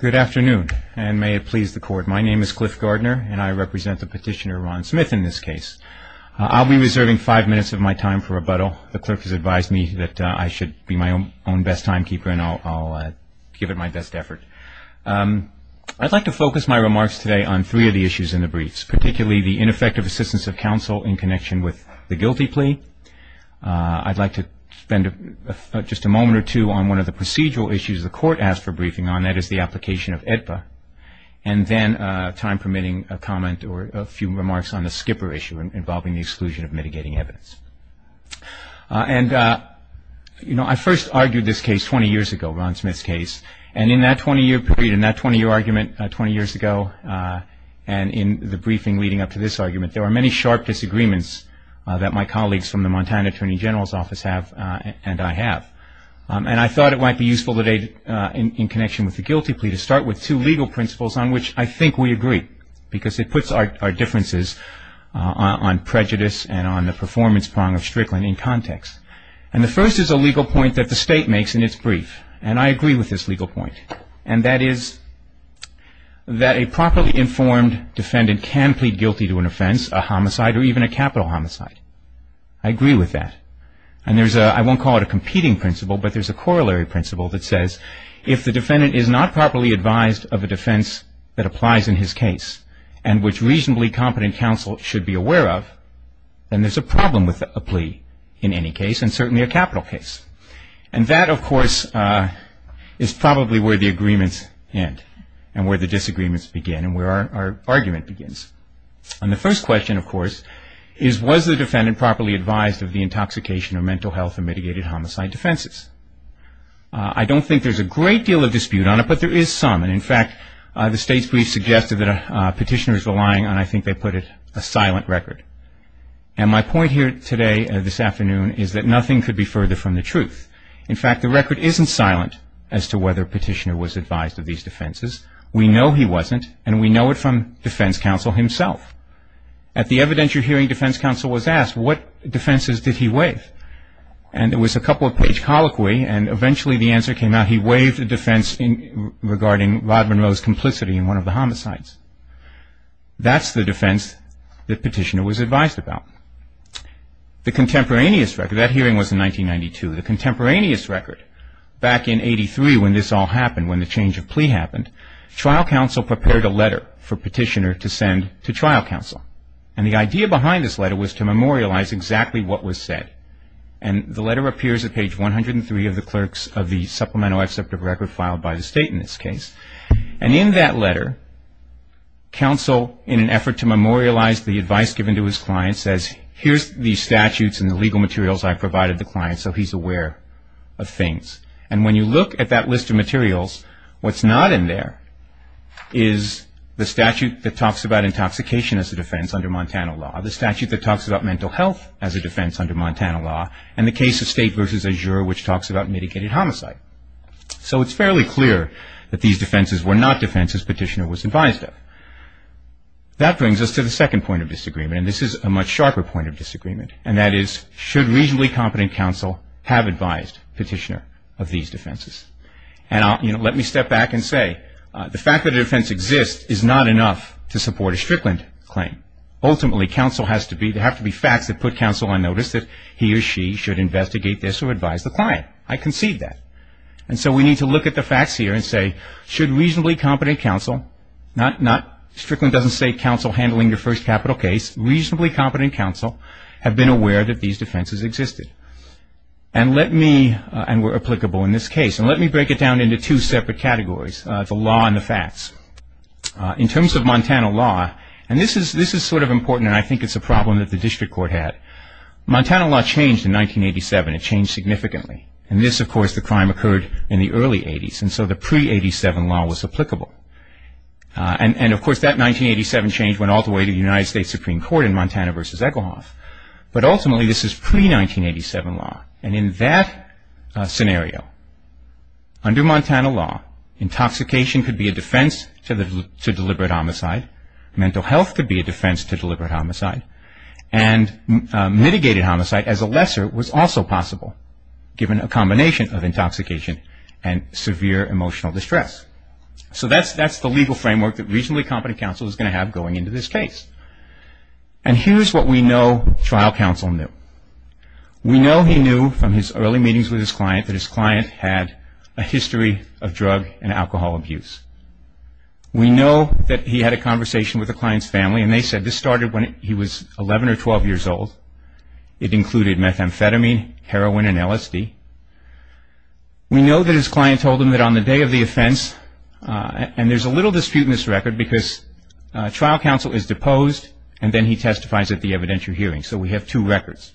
Good afternoon, and may it please the court. My name is Cliff Gardner, and I represent the petitioner Ron Smith in this case. I'll be reserving five minutes of my time for rebuttal. The clerk has advised me that I should be my own best timekeeper, and I'll give it my best effort. I'd like to focus my remarks today on three of the issues in the briefs, particularly the ineffective assistance of counsel in connection with the guilty plea. I'd like to spend just a moment or two on one of the procedural issues the court asked for briefing on, that is the application of AEDPA, and then, time permitting, a comment or a few remarks on the skipper issue involving the exclusion of mitigating evidence. I first argued this case 20 years ago, Ron Smith's case, and in that 20-year period, in that 20-year argument 20 years ago, and in the briefing leading up to this argument, there were many sharp disagreements that my colleagues from the Montana Attorney General's office have, and I have, and I thought it might be useful today in connection with the guilty plea to start with two legal principles on which I think we agree, because it puts our differences on prejudice and on the performance prong of Strickland in context. And the first is a legal point that the state makes in its brief, and I agree with this legal point, and that is that a properly informed defendant can plead guilty to an offense, a homicide, or even a capital homicide. I agree with that, and there's a, I won't call it a competing principle, but there's a corollary principle that says if the defendant is not properly advised of a defense that applies in his case and which reasonably competent counsel should be aware of, then there's a problem with a plea in any case, and certainly a capital case. And that, of course, is probably where the agreements end and where the disagreements begin and where our argument begins. And the first question, of course, is was the defendant properly advised of the intoxication of mental health and mitigated homicide defenses? I don't think there's a great deal of dispute on it, but there is some. And in fact, the state's brief suggested that a petitioner is relying on, I think they put it, a silent record. And my point here today, this afternoon, is that nothing could be further from the truth. In fact, the record isn't silent as to whether a petitioner was advised of these defenses. We know he wasn't, and we know it from defense counsel himself. At the evidence you're hearing, defense counsel was asked what defenses did he waive? And it was a couple-page colloquy, and eventually the answer came out, he waived a defense regarding Rod Monroe's complicity in one of the homicides. That's the defense the petitioner was advised about. The contemporaneous record, that hearing was in 1992, the contemporaneous record, back in 83 when this all happened, when the change of plea happened, trial counsel prepared a letter for petitioner to send to trial counsel. And the idea behind this letter was to memorialize exactly what was said. And the letter appears at page 103 of the clerks of the supplemental executive record filed by the state in this case. And in that letter, counsel, in an effort to memorialize the advice given to his client, says here's the statutes and the legal materials I provided the client so he's aware of things. And when you look at that list of materials, what's not in there is the statute that talks about intoxication as a defense under Montana law, the statute that talks about mental health as a defense under Montana law, and the case of State v. Azure, which talks about mitigated homicide. So it's fairly clear that these defenses were not defenses petitioner was advised of. That brings us to the second point of disagreement, and this is a much sharper point of disagreement, and that is should reasonably competent counsel have advised petitioner of these defenses? And let me step back and say the fact that a defense exists is not enough to support a Strickland claim. Ultimately, counsel has to be, there have to be facts that put counsel on notice that he or she should investigate this or advise the client. I concede that. And so we need to look at the facts here and say should reasonably competent counsel, not Strickland doesn't say counsel handling your first capital case, reasonably competent counsel have been aware that these defenses existed. And let me, and were applicable in this case, and let me break it down into two separate categories. The law and the facts. In terms of Montana law, and this is sort of important, and I think it's a problem that the district court had. Montana law changed in 1987. It changed significantly. In this, of course, the crime occurred in the early 80s, and so the pre-'87 law was applicable. And, of course, that 1987 change went all the way to the United States Supreme Court in Montana v. Echelhoff. But, ultimately, this is pre-'87 law. And in that scenario, under Montana law, intoxication could be a defense to deliberate homicide. Mental health could be a defense to deliberate homicide. And mitigated homicide, as a lesser, was also possible, given a combination of intoxication and severe emotional distress. So that's the legal framework that reasonably competent counsel is going to have going into this case. And here's what we know trial counsel knew. We know he knew from his early meetings with his client that his client had a history of drug and alcohol abuse. We know that he had a conversation with the client's family, and they said this started when he was 11 or 12 years old. It included methamphetamine, heroin, and LSD. We know that his client told him that on the day of the offense, and there's a little dispute in this record because trial counsel is deposed, and then he testifies at the evidentiary hearing. So we have two records.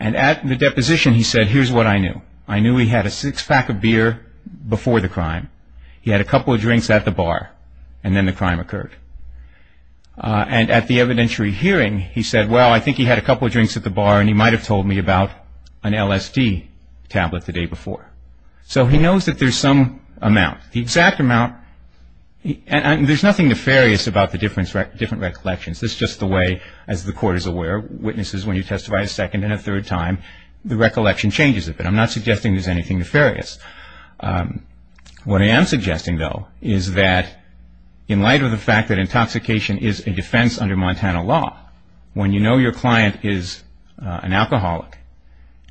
And at the deposition, he said, here's what I knew. I knew he had a six-pack of beer before the crime. He had a couple of drinks at the bar, and then the crime occurred. And at the evidentiary hearing, he said, well, I think he had a couple of drinks at the bar, and he might have told me about an LSD tablet the day before. So he knows that there's some amount. The exact amount, and there's nothing nefarious about the different recollections. This is just the way, as the court is aware, witnesses, when you testify a second and a third time, the recollection changes a bit. I'm not suggesting there's anything nefarious. What I am suggesting, though, is that in light of the fact that intoxication is a defense under Montana law, when you know your client is an alcoholic,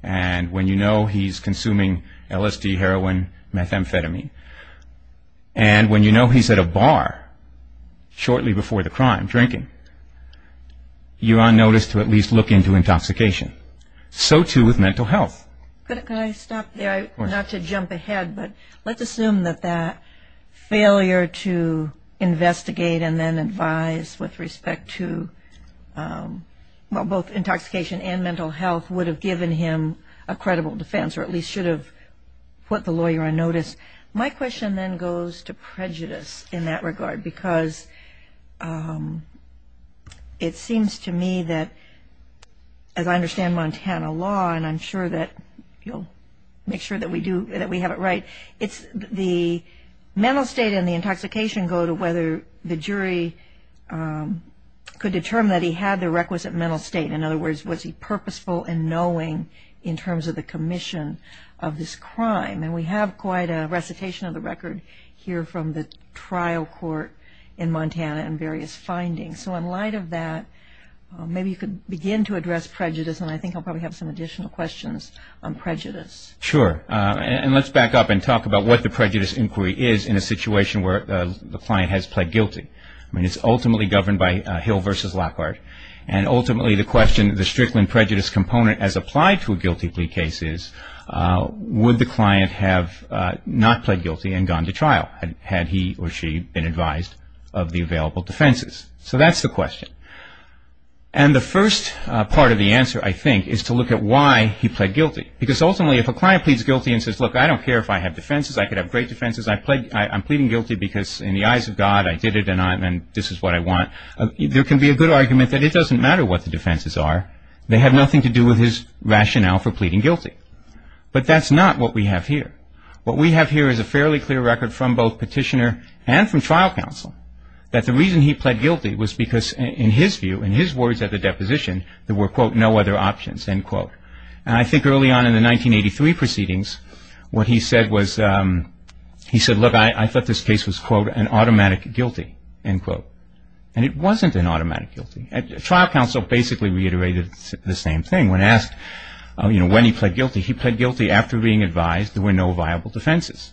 and when you know he's consuming LSD, heroin, methamphetamine, and when you know he's at a bar shortly before the crime, drinking, you are noticed to at least look into intoxication. So, too, with mental health. Can I stop there? Of course. Not to jump ahead, but let's assume that that failure to investigate and then advise with respect to both intoxication and mental health would have given him a credible defense, or at least should have put the lawyer on notice. My question then goes to prejudice in that regard, because it seems to me that, as I understand Montana law, and I'm sure that you'll make sure that we have it right, the mental state and the intoxication go to whether the jury could determine that he had the requisite mental state. In other words, was he purposeful in knowing in terms of the commission of this crime? And we have quite a recitation of the record here from the trial court in Montana and various findings. So, in light of that, maybe you could begin to address prejudice, and I think I'll probably have some additional questions on prejudice. Sure. And let's back up and talk about what the prejudice inquiry is in a situation where the client has pled guilty. I mean, it's ultimately governed by Hill v. Lockhart, and ultimately the question, the Strickland prejudice component as applied to a guilty plea case is, would the client have not pled guilty and gone to trial had he or she been advised of the available defenses? So that's the question. And the first part of the answer, I think, is to look at why he pled guilty, because ultimately if a client pleads guilty and says, look, I don't care if I have defenses, I could have great defenses, I'm pleading guilty because in the eyes of God I did it and this is what I want, there can be a good argument that it doesn't matter what the defenses are. They have nothing to do with his rationale for pleading guilty. But that's not what we have here. What we have here is a fairly clear record from both petitioner and from trial counsel that the reason he pled guilty was because in his view, in his words at the deposition, there were, quote, no other options, end quote. And I think early on in the 1983 proceedings what he said was, he said, look, I thought this case was, quote, an automatic guilty, end quote. And it wasn't an automatic guilty. Trial counsel basically reiterated the same thing. When asked, you know, when he pled guilty, he pled guilty after being advised there were no viable defenses.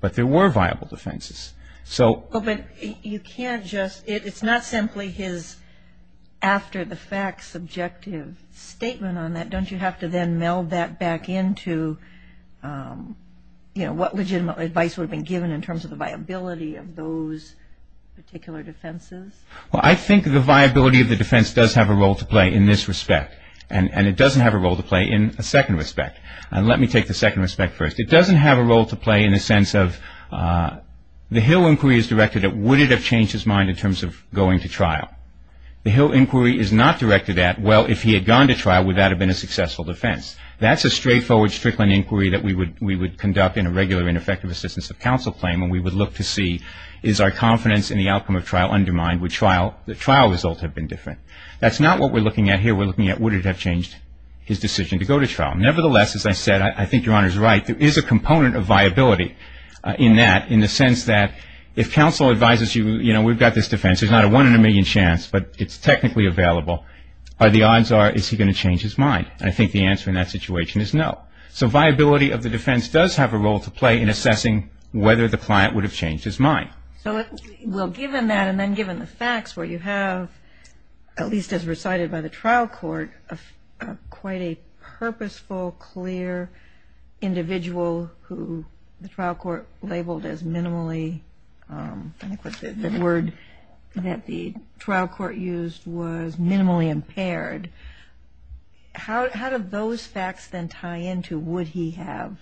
But there were viable defenses. But you can't just, it's not simply his after the fact subjective statement on that. Don't you have to then meld that back into, you know, what legitimate advice would have been given in terms of the viability of those particular defenses? Well, I think the viability of the defense does have a role to play in this respect. And it doesn't have a role to play in a second respect. And let me take the second respect first. It doesn't have a role to play in the sense of the Hill inquiry is directed at, would it have changed his mind in terms of going to trial? The Hill inquiry is not directed at, well, if he had gone to trial, would that have been a successful defense? That's a straightforward Strickland inquiry that we would conduct in a regular ineffective assistance of counsel claim when we would look to see, is our confidence in the outcome of trial undermined? Would the trial result have been different? That's not what we're looking at here. Nevertheless, as I said, I think Your Honor is right. There is a component of viability in that, in the sense that if counsel advises you, you know, we've got this defense. There's not a one in a million chance, but it's technically available. The odds are, is he going to change his mind? I think the answer in that situation is no. So viability of the defense does have a role to play in assessing whether the client would have changed his mind. Well, given that and then given the facts where you have, at least as recited by the trial court, quite a purposeful, clear individual who the trial court labeled as minimally, the word that the trial court used was minimally impaired. How do those facts then tie into would he have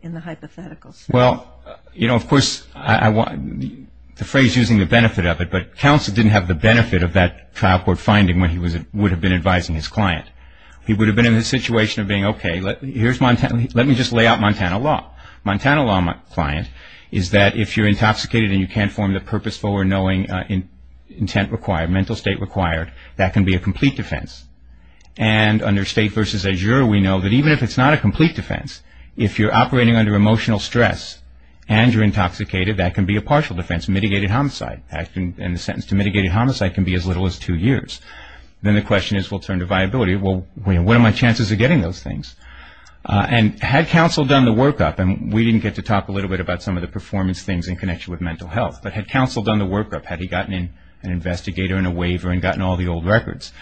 in the hypothetical? Well, you know, of course, the phrase using the benefit of it, but counsel didn't have the benefit of that trial court finding when he would have been advising his client. He would have been in the situation of being, okay, let me just lay out Montana law. Montana law, my client, is that if you're intoxicated and you can't form the purposeful or knowing intent required, mental state required, that can be a complete defense. And under state versus azure, we know that even if it's not a complete defense, if you're operating under emotional stress and you're intoxicated, that can be a partial defense, mitigated homicide. And the sentence to mitigated homicide can be as little as two years. Then the question is, well, turn to viability. Well, what are my chances of getting those things? And had counsel done the workup, and we didn't get to talk a little bit about some of the performance things in connection with mental health, but had counsel done the workup, had he gotten an investigator and a waiver and gotten all the old records?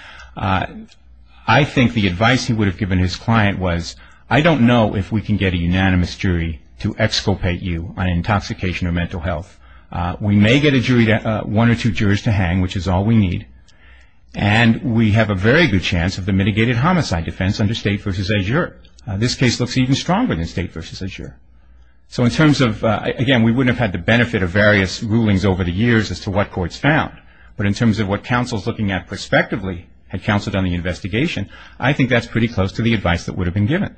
I think the advice he would have given his client was, I don't know if we can get a unanimous jury to exculpate you on intoxication or mental health. We may get one or two jurors to hang, which is all we need. And we have a very good chance of the mitigated homicide defense under state versus azure. This case looks even stronger than state versus azure. So in terms of, again, we wouldn't have had the benefit of various rulings over the years as to what courts found. But in terms of what counsel is looking at prospectively, had counsel done the investigation, I think that's pretty close to the advice that would have been given.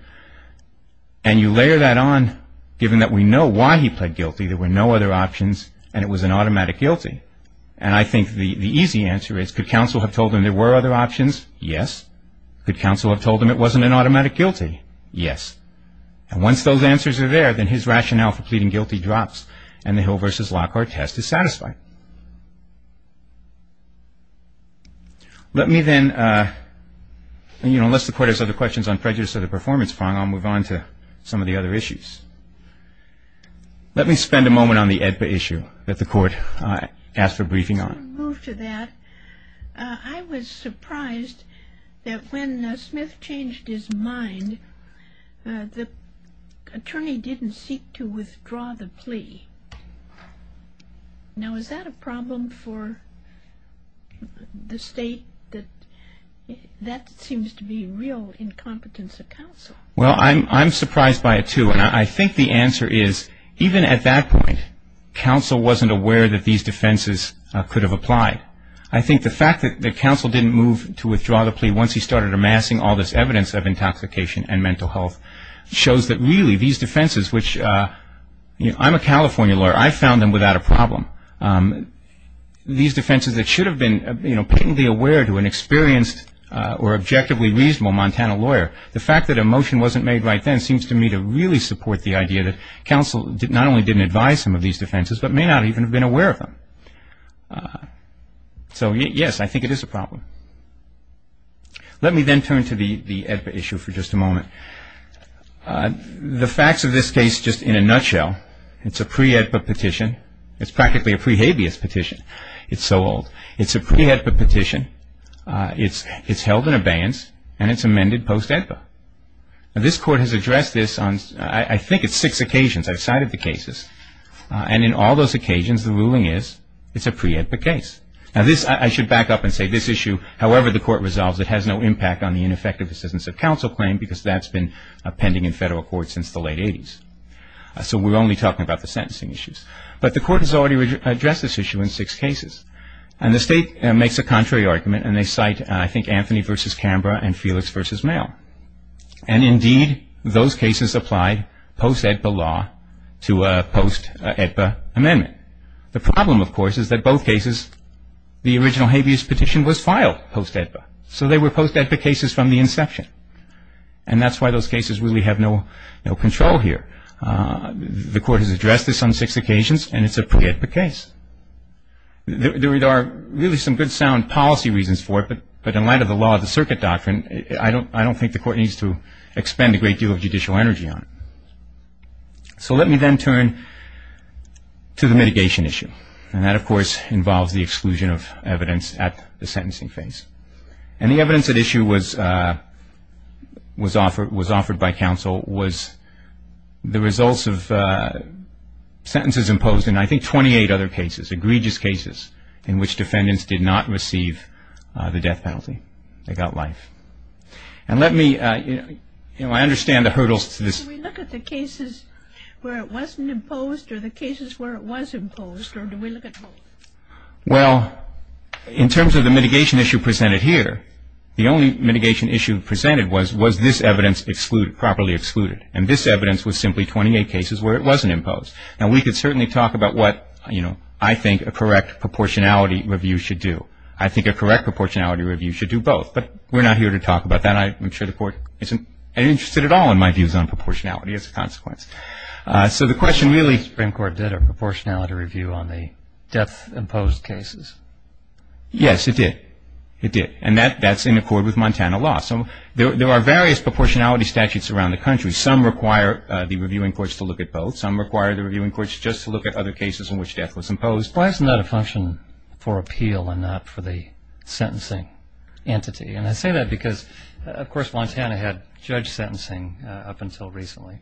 And you layer that on, given that we know why he pled guilty, there were no other options, and it was an automatic guilty. And I think the easy answer is, could counsel have told him there were other options? Yes. Could counsel have told him it wasn't an automatic guilty? Yes. And once those answers are there, then his rationale for pleading guilty drops, and the Hill versus Lockhart test is satisfied. Let me then, you know, unless the Court has other questions on prejudice or the performance prong, I'll move on to some of the other issues. Let me spend a moment on the AEDPA issue that the Court asked for briefing on. Before we move to that, I was surprised that when Smith changed his mind, the attorney didn't seek to withdraw the plea. Now, is that a problem for the State? That seems to be real incompetence of counsel. Well, I'm surprised by it, too. And I think the answer is, even at that point, counsel wasn't aware that these defenses could have applied. I think the fact that counsel didn't move to withdraw the plea once he started amassing all this evidence of intoxication and mental health, shows that really these defenses, which, you know, I'm a California lawyer. I found them without a problem. These defenses that should have been, you know, patently aware to an experienced or objectively reasonable Montana lawyer, the fact that a motion wasn't made right then seems to me to really support the idea that counsel not only didn't advise him of these defenses, but may not even have been aware of them. So, yes, I think it is a problem. Let me then turn to the AEDPA issue for just a moment. The facts of this case, just in a nutshell, it's a pre-AEDPA petition. It's practically a pre-habeas petition. It's so old. It's a pre-AEDPA petition. It's held in abeyance, and it's amended post-AEDPA. Now, this Court has addressed this on, I think it's six occasions. I've cited the cases. And in all those occasions, the ruling is it's a pre-AEDPA case. Now, this, I should back up and say this issue, however the Court resolves it, has no impact on the ineffective assistance of counsel claim because that's been pending in federal court since the late 80s. So we're only talking about the sentencing issues. But the Court has already addressed this issue in six cases. And the State makes a contrary argument, and they cite, I think, Anthony v. Canberra and Felix v. Mayo. And indeed, those cases applied post-AEDPA law to a post-AEDPA amendment. The problem, of course, is that both cases, the original habeas petition was filed post-AEDPA. So they were post-AEDPA cases from the inception. And that's why those cases really have no control here. The Court has addressed this on six occasions, and it's a pre-AEDPA case. There are really some good sound policy reasons for it, but in light of the law of the circuit doctrine, I don't think the Court needs to expend a great deal of judicial energy on it. So let me then turn to the mitigation issue. And that, of course, involves the exclusion of evidence at the sentencing phase. And the evidence at issue was offered by counsel was the results of sentences imposed in, I think, 28 other cases, in which defendants did not receive the death penalty. They got life. And let me, you know, I understand the hurdles to this. Do we look at the cases where it wasn't imposed or the cases where it was imposed, or do we look at both? Well, in terms of the mitigation issue presented here, the only mitigation issue presented was, was this evidence excluded, properly excluded? And this evidence was simply 28 cases where it wasn't imposed. Now, we could certainly talk about what, you know, I think a correct proportionality review should do. I think a correct proportionality review should do both. But we're not here to talk about that. I'm sure the Court isn't interested at all in my views on proportionality as a consequence. So the question really- The Supreme Court did a proportionality review on the death-imposed cases. Yes, it did. It did. And that's in accord with Montana law. So there are various proportionality statutes around the country. Some require the reviewing courts to look at both. Some require the reviewing courts just to look at other cases in which death was imposed. Why isn't that a function for appeal and not for the sentencing entity? And I say that because, of course, Montana had judge sentencing up until recently.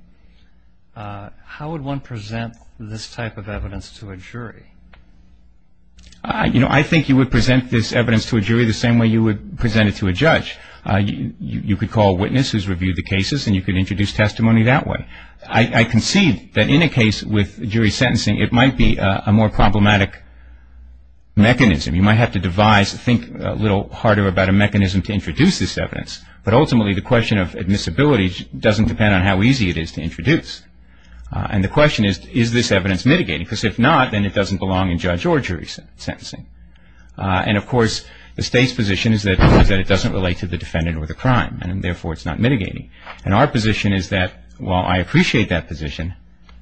How would one present this type of evidence to a jury? You know, I think you would present this evidence to a jury the same way you would present it to a judge. You could call a witness who's reviewed the cases, and you could introduce testimony that way. I concede that in a case with jury sentencing, it might be a more problematic mechanism. You might have to devise, think a little harder about a mechanism to introduce this evidence. But ultimately, the question of admissibility doesn't depend on how easy it is to introduce. And the question is, is this evidence mitigating? Because if not, then it doesn't belong in judge or jury sentencing. And, of course, the State's position is that it doesn't relate to the defendant or the crime, and therefore it's not mitigating. And our position is that, while I appreciate that position,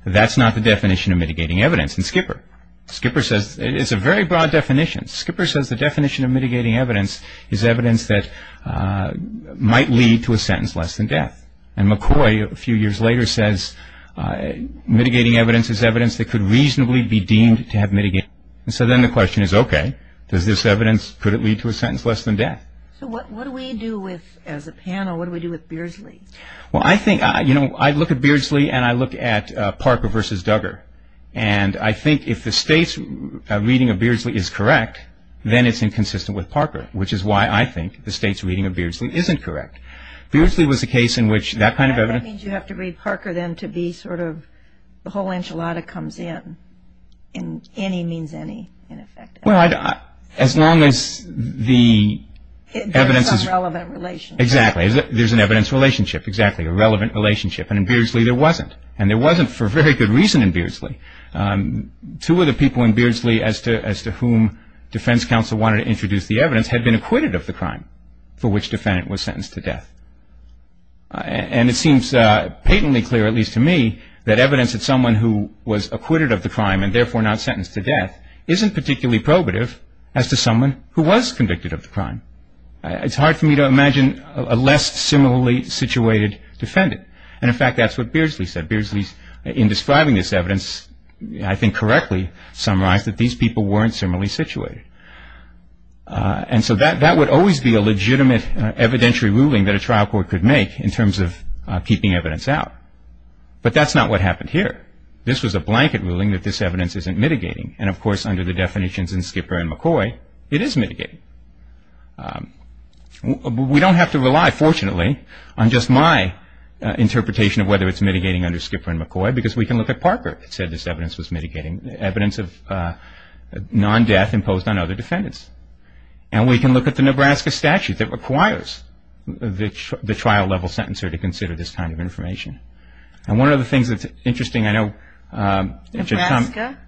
that's not the definition of mitigating evidence. And Skipper, Skipper says it's a very broad definition. Skipper says the definition of mitigating evidence is evidence that might lead to a sentence less than death. And McCoy, a few years later, says mitigating evidence is evidence that could reasonably be deemed to have mitigated. And so then the question is, okay, does this evidence, could it lead to a sentence less than death? So what do we do with, as a panel, what do we do with Beardsley? Well, I think, you know, I look at Beardsley and I look at Parker v. Duggar. And I think if the State's reading of Beardsley is correct, then it's inconsistent with Parker, which is why I think the State's reading of Beardsley isn't correct. Beardsley was a case in which that kind of evidence. That means you have to read Parker then to be sort of the whole enchilada comes in, in any means any, in effect. Well, as long as the evidence is. There's some relevant relationship. Exactly. There's an evidence relationship. Exactly. A relevant relationship. And in Beardsley there wasn't. And there wasn't for very good reason in Beardsley. Two of the people in Beardsley as to whom defense counsel wanted to introduce the evidence had been acquitted of the crime for which defendant was sentenced to death. And it seems patently clear, at least to me, that evidence that someone who was acquitted of the crime and, therefore, not sentenced to death, isn't particularly probative as to someone who was convicted of the crime. It's hard for me to imagine a less similarly situated defendant. And, in fact, that's what Beardsley said. Beardsley, in describing this evidence, I think correctly summarized that these people weren't similarly situated. And so that would always be a legitimate evidentiary ruling that a trial court could make in terms of keeping evidence out. But that's not what happened here. This was a blanket ruling that this evidence isn't mitigating. And, of course, under the definitions in Skipper and McCoy, it is mitigating. We don't have to rely, fortunately, on just my interpretation of whether it's mitigating under Skipper and McCoy because we can look at Parker who said this evidence was mitigating, evidence of non-death imposed on other defendants. And we can look at the Nebraska statute that requires the trial level sentencer to consider this kind of information. And one of the things that's interesting, I know... Nebraska?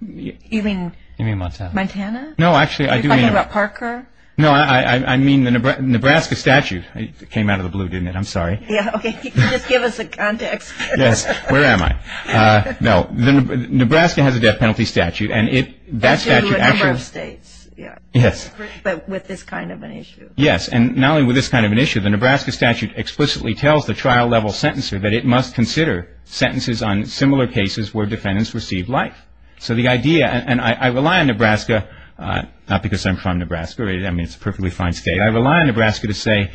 You mean Montana? Montana? No, actually, I do mean... Are you talking about Parker? No, I mean the Nebraska statute. It came out of the blue, didn't it? I'm sorry. Yeah, okay. Just give us a context. Yes. Where am I? No. Nebraska has a death penalty statute. That's due to a number of states. Yes. But with this kind of an issue. Yes. And not only with this kind of an issue, the Nebraska statute explicitly tells the trial level sentencer that it must consider sentences on similar cases where defendants received life. So the idea, and I rely on Nebraska, not because I'm from Nebraska. I mean, it's a perfectly fine state. I rely on Nebraska to say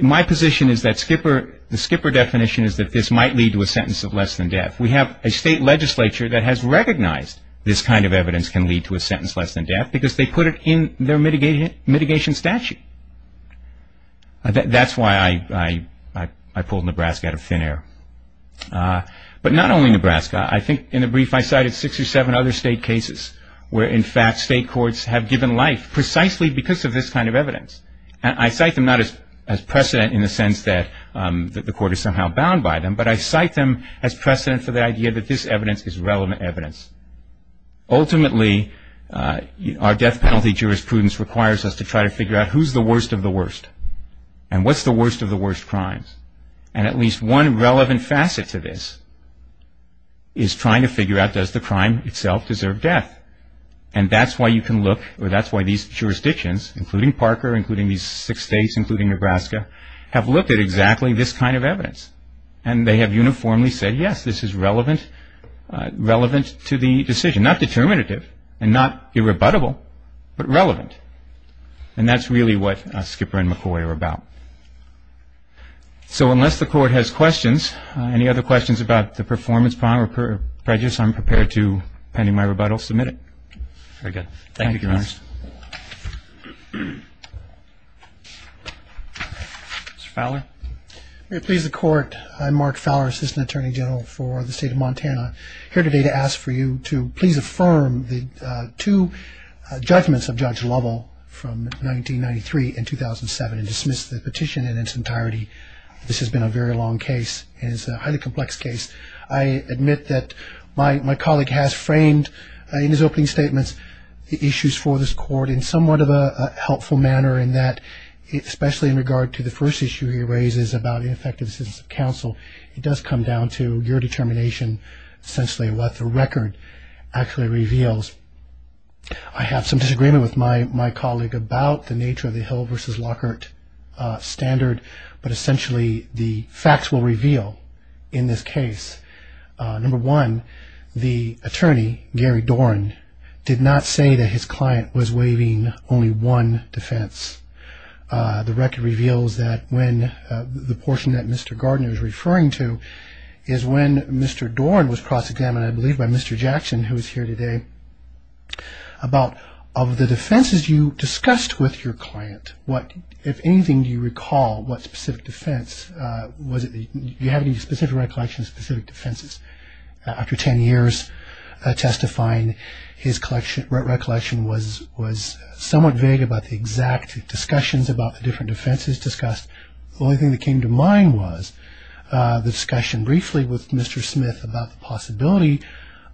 my position is that the Skipper definition is that this might lead to a sentence of less than death. We have a state legislature that has recognized this kind of evidence can lead to a sentence less than death because they put it in their mitigation statute. That's why I pulled Nebraska out of thin air. But not only Nebraska. I think in the brief I cited six or seven other state cases where, in fact, state courts have given life precisely because of this kind of evidence. I cite them not as precedent in the sense that the court is somehow bound by them, but I cite them as precedent for the idea that this evidence is relevant evidence. Ultimately, our death penalty jurisprudence requires us to try to figure out who's the worst of the worst and what's the worst of the worst crimes. And at least one relevant facet to this is trying to figure out does the crime itself deserve death. And that's why you can look, or that's why these jurisdictions, including Parker, including these six states, and they have uniformly said, yes, this is relevant to the decision. Not determinative and not irrebuttable, but relevant. And that's really what Skipper and McCoy are about. So unless the court has questions, any other questions about the performance problem or prejudice, I'm prepared to, pending my rebuttal, submit it. Very good. Thank you, Your Honor. Mr. Fowler. May it please the Court. I'm Mark Fowler, Assistant Attorney General for the State of Montana, here today to ask for you to please affirm the two judgments of Judge Lovell from 1993 and 2007 and dismiss the petition in its entirety. This has been a very long case and it's a highly complex case. I admit that my colleague has framed in his opening statements the issues for this court in somewhat of a helpful manner in that especially in regard to the first issue he raises about ineffective assistance of counsel, it does come down to your determination essentially what the record actually reveals. I have some disagreement with my colleague about the nature of the Hill v. Lockhart standard, but essentially the facts will reveal in this case. Number one, the attorney, Gary Dorn, did not say that his client was waiving only one defense. The record reveals that when the portion that Mr. Gardner is referring to is when Mr. Dorn was cross-examined, I believe by Mr. Jackson, who is here today, about of the defenses you discussed with your client, if anything, do you recall what specific defense, do you have any specific recollection of specific defenses? After 10 years testifying, his recollection was somewhat vague about the exact discussions about the different defenses discussed. The only thing that came to mind was the discussion briefly with Mr. Smith about the possibility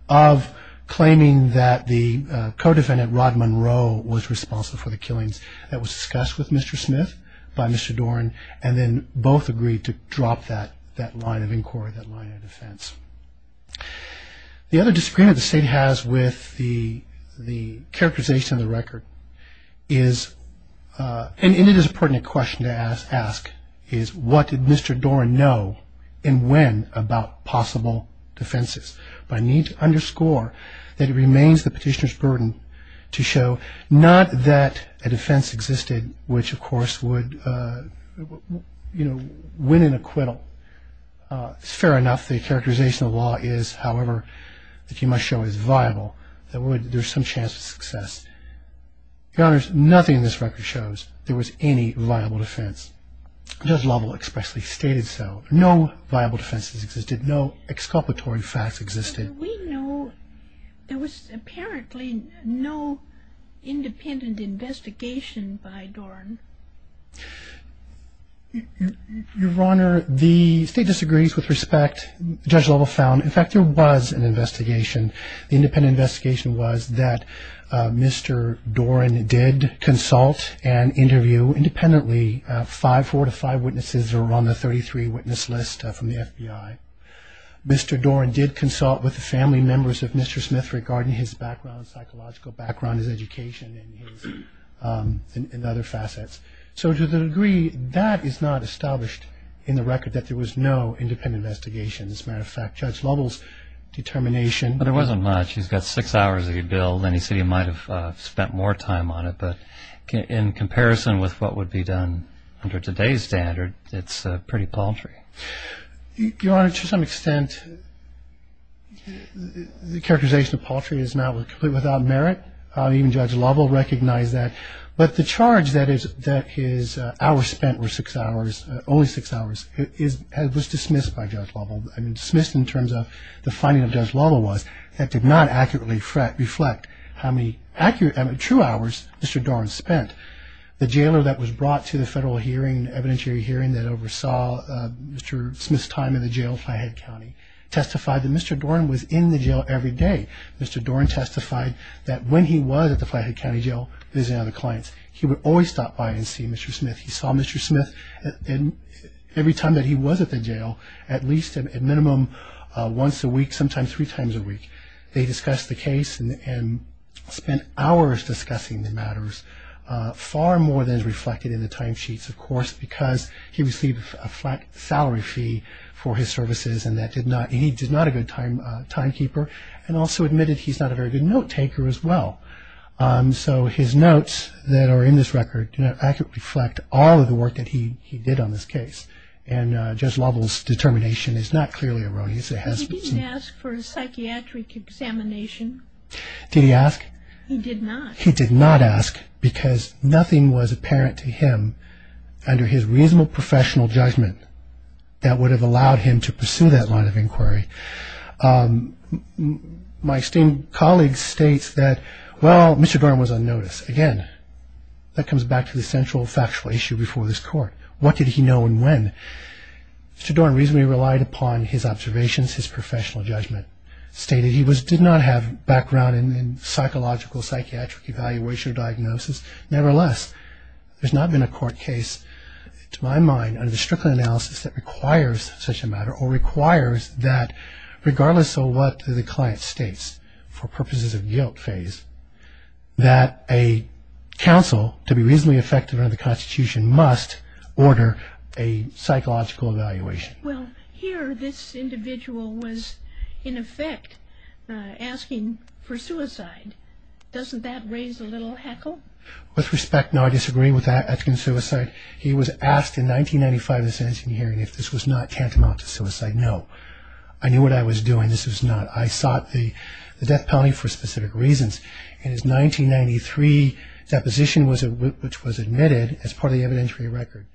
of claiming that the co-defendant, Rod Monroe, was responsible for the killings that was discussed with Mr. Smith by Mr. Dorn and then both agreed to drop that line of inquiry, that line of defense. The other disagreement the State has with the characterization of the record is, and it is a pertinent question to ask, is what did Mr. Dorn know and when about possible defenses? But I need to underscore that it remains the petitioner's burden to show not that a defense existed, which of course would, you know, win an acquittal. It's fair enough the characterization of the law is, however, that you must show is viable, that there's some chance of success. Your Honors, nothing in this record shows there was any viable defense. Judge Lovell expressly stated so. No viable defenses existed. No exculpatory facts existed. We know there was apparently no independent investigation by Dorn. Your Honor, the State disagrees with respect. Judge Lovell found, in fact, there was an investigation. The independent investigation was that Mr. Dorn did consult and interview independently five, four to five witnesses who were on the 33 witness list from the FBI. Mr. Dorn did consult with the family members of Mr. Smith regarding his background, psychological background, his education, and other facets. So to the degree that is not established in the record that there was no independent investigation. As a matter of fact, Judge Lovell's determination. Well, there wasn't much. He's got six hours of your bill, and he said he might have spent more time on it. But in comparison with what would be done under today's standard, it's pretty paltry. Your Honor, to some extent, the characterization of paltry is now completely without merit. Even Judge Lovell recognized that. But the charge that his hours spent were six hours, only six hours, was dismissed by Judge Lovell. I mean dismissed in terms of the finding of Judge Lovell was that did not accurately reflect how many true hours Mr. Dorn spent. The jailer that was brought to the federal hearing, evidentiary hearing, that oversaw Mr. Smith's time in the jail in Flathead County testified that Mr. Dorn was in the jail every day. Mr. Dorn testified that when he was at the Flathead County Jail visiting other clients, he would always stop by and see Mr. Smith. He saw Mr. Smith every time that he was at the jail at least a minimum once a week, sometimes three times a week. They discussed the case and spent hours discussing the matters, far more than is reflected in the timesheets, of course, because he received a flat salary fee for his services and he did not a good timekeeper and also admitted he's not a very good note taker as well. So his notes that are in this record do not accurately reflect all of the work that he did on this case. And Judge Lovell's determination is not clearly erroneous. He didn't ask for a psychiatric examination. Did he ask? He did not. He did not ask because nothing was apparent to him under his reasonable professional judgment that would have allowed him to pursue that line of inquiry. My esteemed colleague states that, well, Mr. Dorn was on notice. Again, that comes back to the central factual issue before this court. What did he know and when? Mr. Dorn reasonably relied upon his observations, his professional judgment. Stated he did not have background in psychological psychiatric evaluation or diagnosis. Nevertheless, there's not been a court case, to my mind, under the strict analysis that requires such a matter or requires that, regardless of what the client states for purposes of guilt phase, that a counsel, to be reasonably effective under the Constitution, must order a psychological evaluation. Well, here this individual was, in effect, asking for suicide. Doesn't that raise a little heckle? With respect, no, I disagree with that, asking for suicide. He was asked in 1995 in this hearing if this was not tantamount to suicide. No. I knew what I was doing. This was not. I sought the death penalty for specific reasons. In his 1993 deposition, which was admitted as part of the evidentiary record,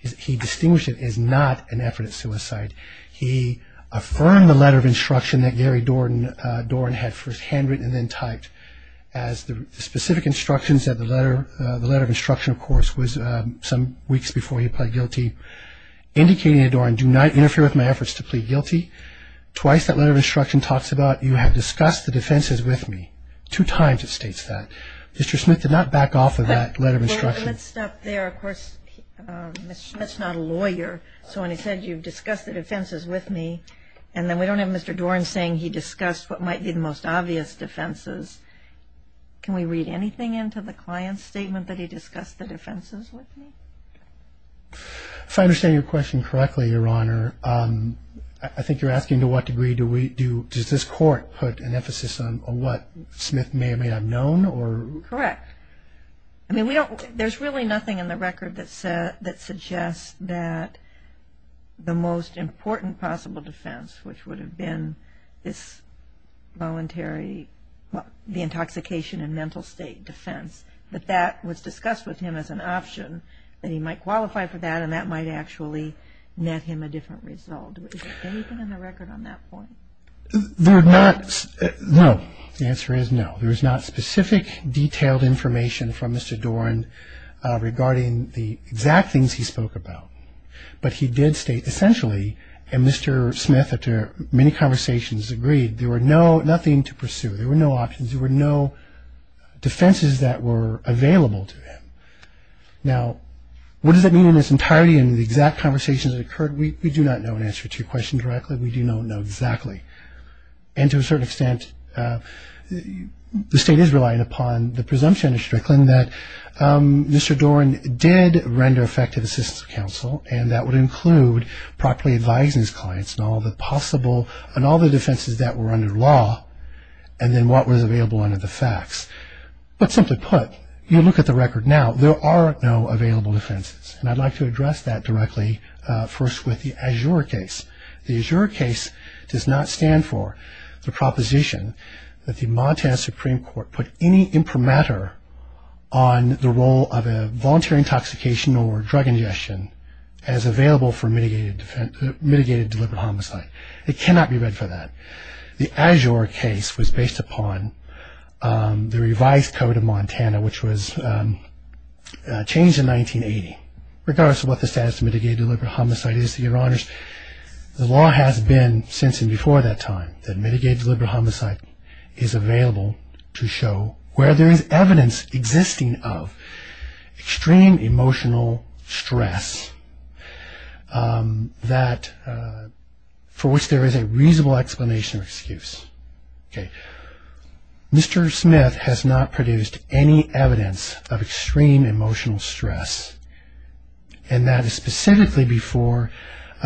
he distinguished it as not an effort at suicide. He affirmed the letter of instruction that Gary Dorn had first handwritten and then typed. As the specific instructions said, the letter of instruction, of course, was some weeks before he pled guilty, indicating to Dorn, do not interfere with my efforts to plead guilty. Twice that letter of instruction talks about you have discussed the defenses with me. Two times it states that. Mr. Smith did not back off of that letter of instruction. Let's stop there. Of course, Mr. Smith's not a lawyer, so when he said you've discussed the defenses with me, and then we don't have Mr. Dorn saying he discussed what might be the most obvious defenses, can we read anything into the client's statement that he discussed the defenses with me? If I understand your question correctly, Your Honor, I think you're asking to what degree does this court put an emphasis on what Smith may or may not have known? Correct. I mean, there's really nothing in the record that suggests that the most important possible defense, which would have been this voluntary, the intoxication and mental state defense, that that was discussed with him as an option, that he might qualify for that, and that might actually net him a different result. Is there anything in the record on that point? No. The answer is no. There is not specific detailed information from Mr. Dorn regarding the exact things he spoke about, but he did state essentially, and Mr. Smith, after many conversations, agreed, there were nothing to pursue. There were no options. There were no defenses that were available to him. Now, what does that mean in its entirety and the exact conversations that occurred? We do not know an answer to your question directly. We do not know exactly. And to a certain extent, the state is relying upon the presumption of Strickland that Mr. Dorn did render effective assistance to counsel, and that would include properly advising his clients on all the possible and all the defenses that were under law and then what was available under the facts. But simply put, you look at the record now, there are no available defenses, and I'd like to address that directly first with the Azure case. The Azure case does not stand for the proposition that the Montana Supreme Court put any imprimatur on the role of a voluntary intoxication or drug ingestion as available for mitigated deliberate homicide. It cannot be read for that. The Azure case was based upon the revised code of Montana, which was changed in 1980. Regardless of what the status of mitigated deliberate homicide is, Your Honors, the law has been, since and before that time, that mitigated deliberate homicide is available to show where there is evidence existing of extreme emotional stress for which there is a reasonable explanation or excuse. Mr. Smith has not produced any evidence of extreme emotional stress, and that is specifically before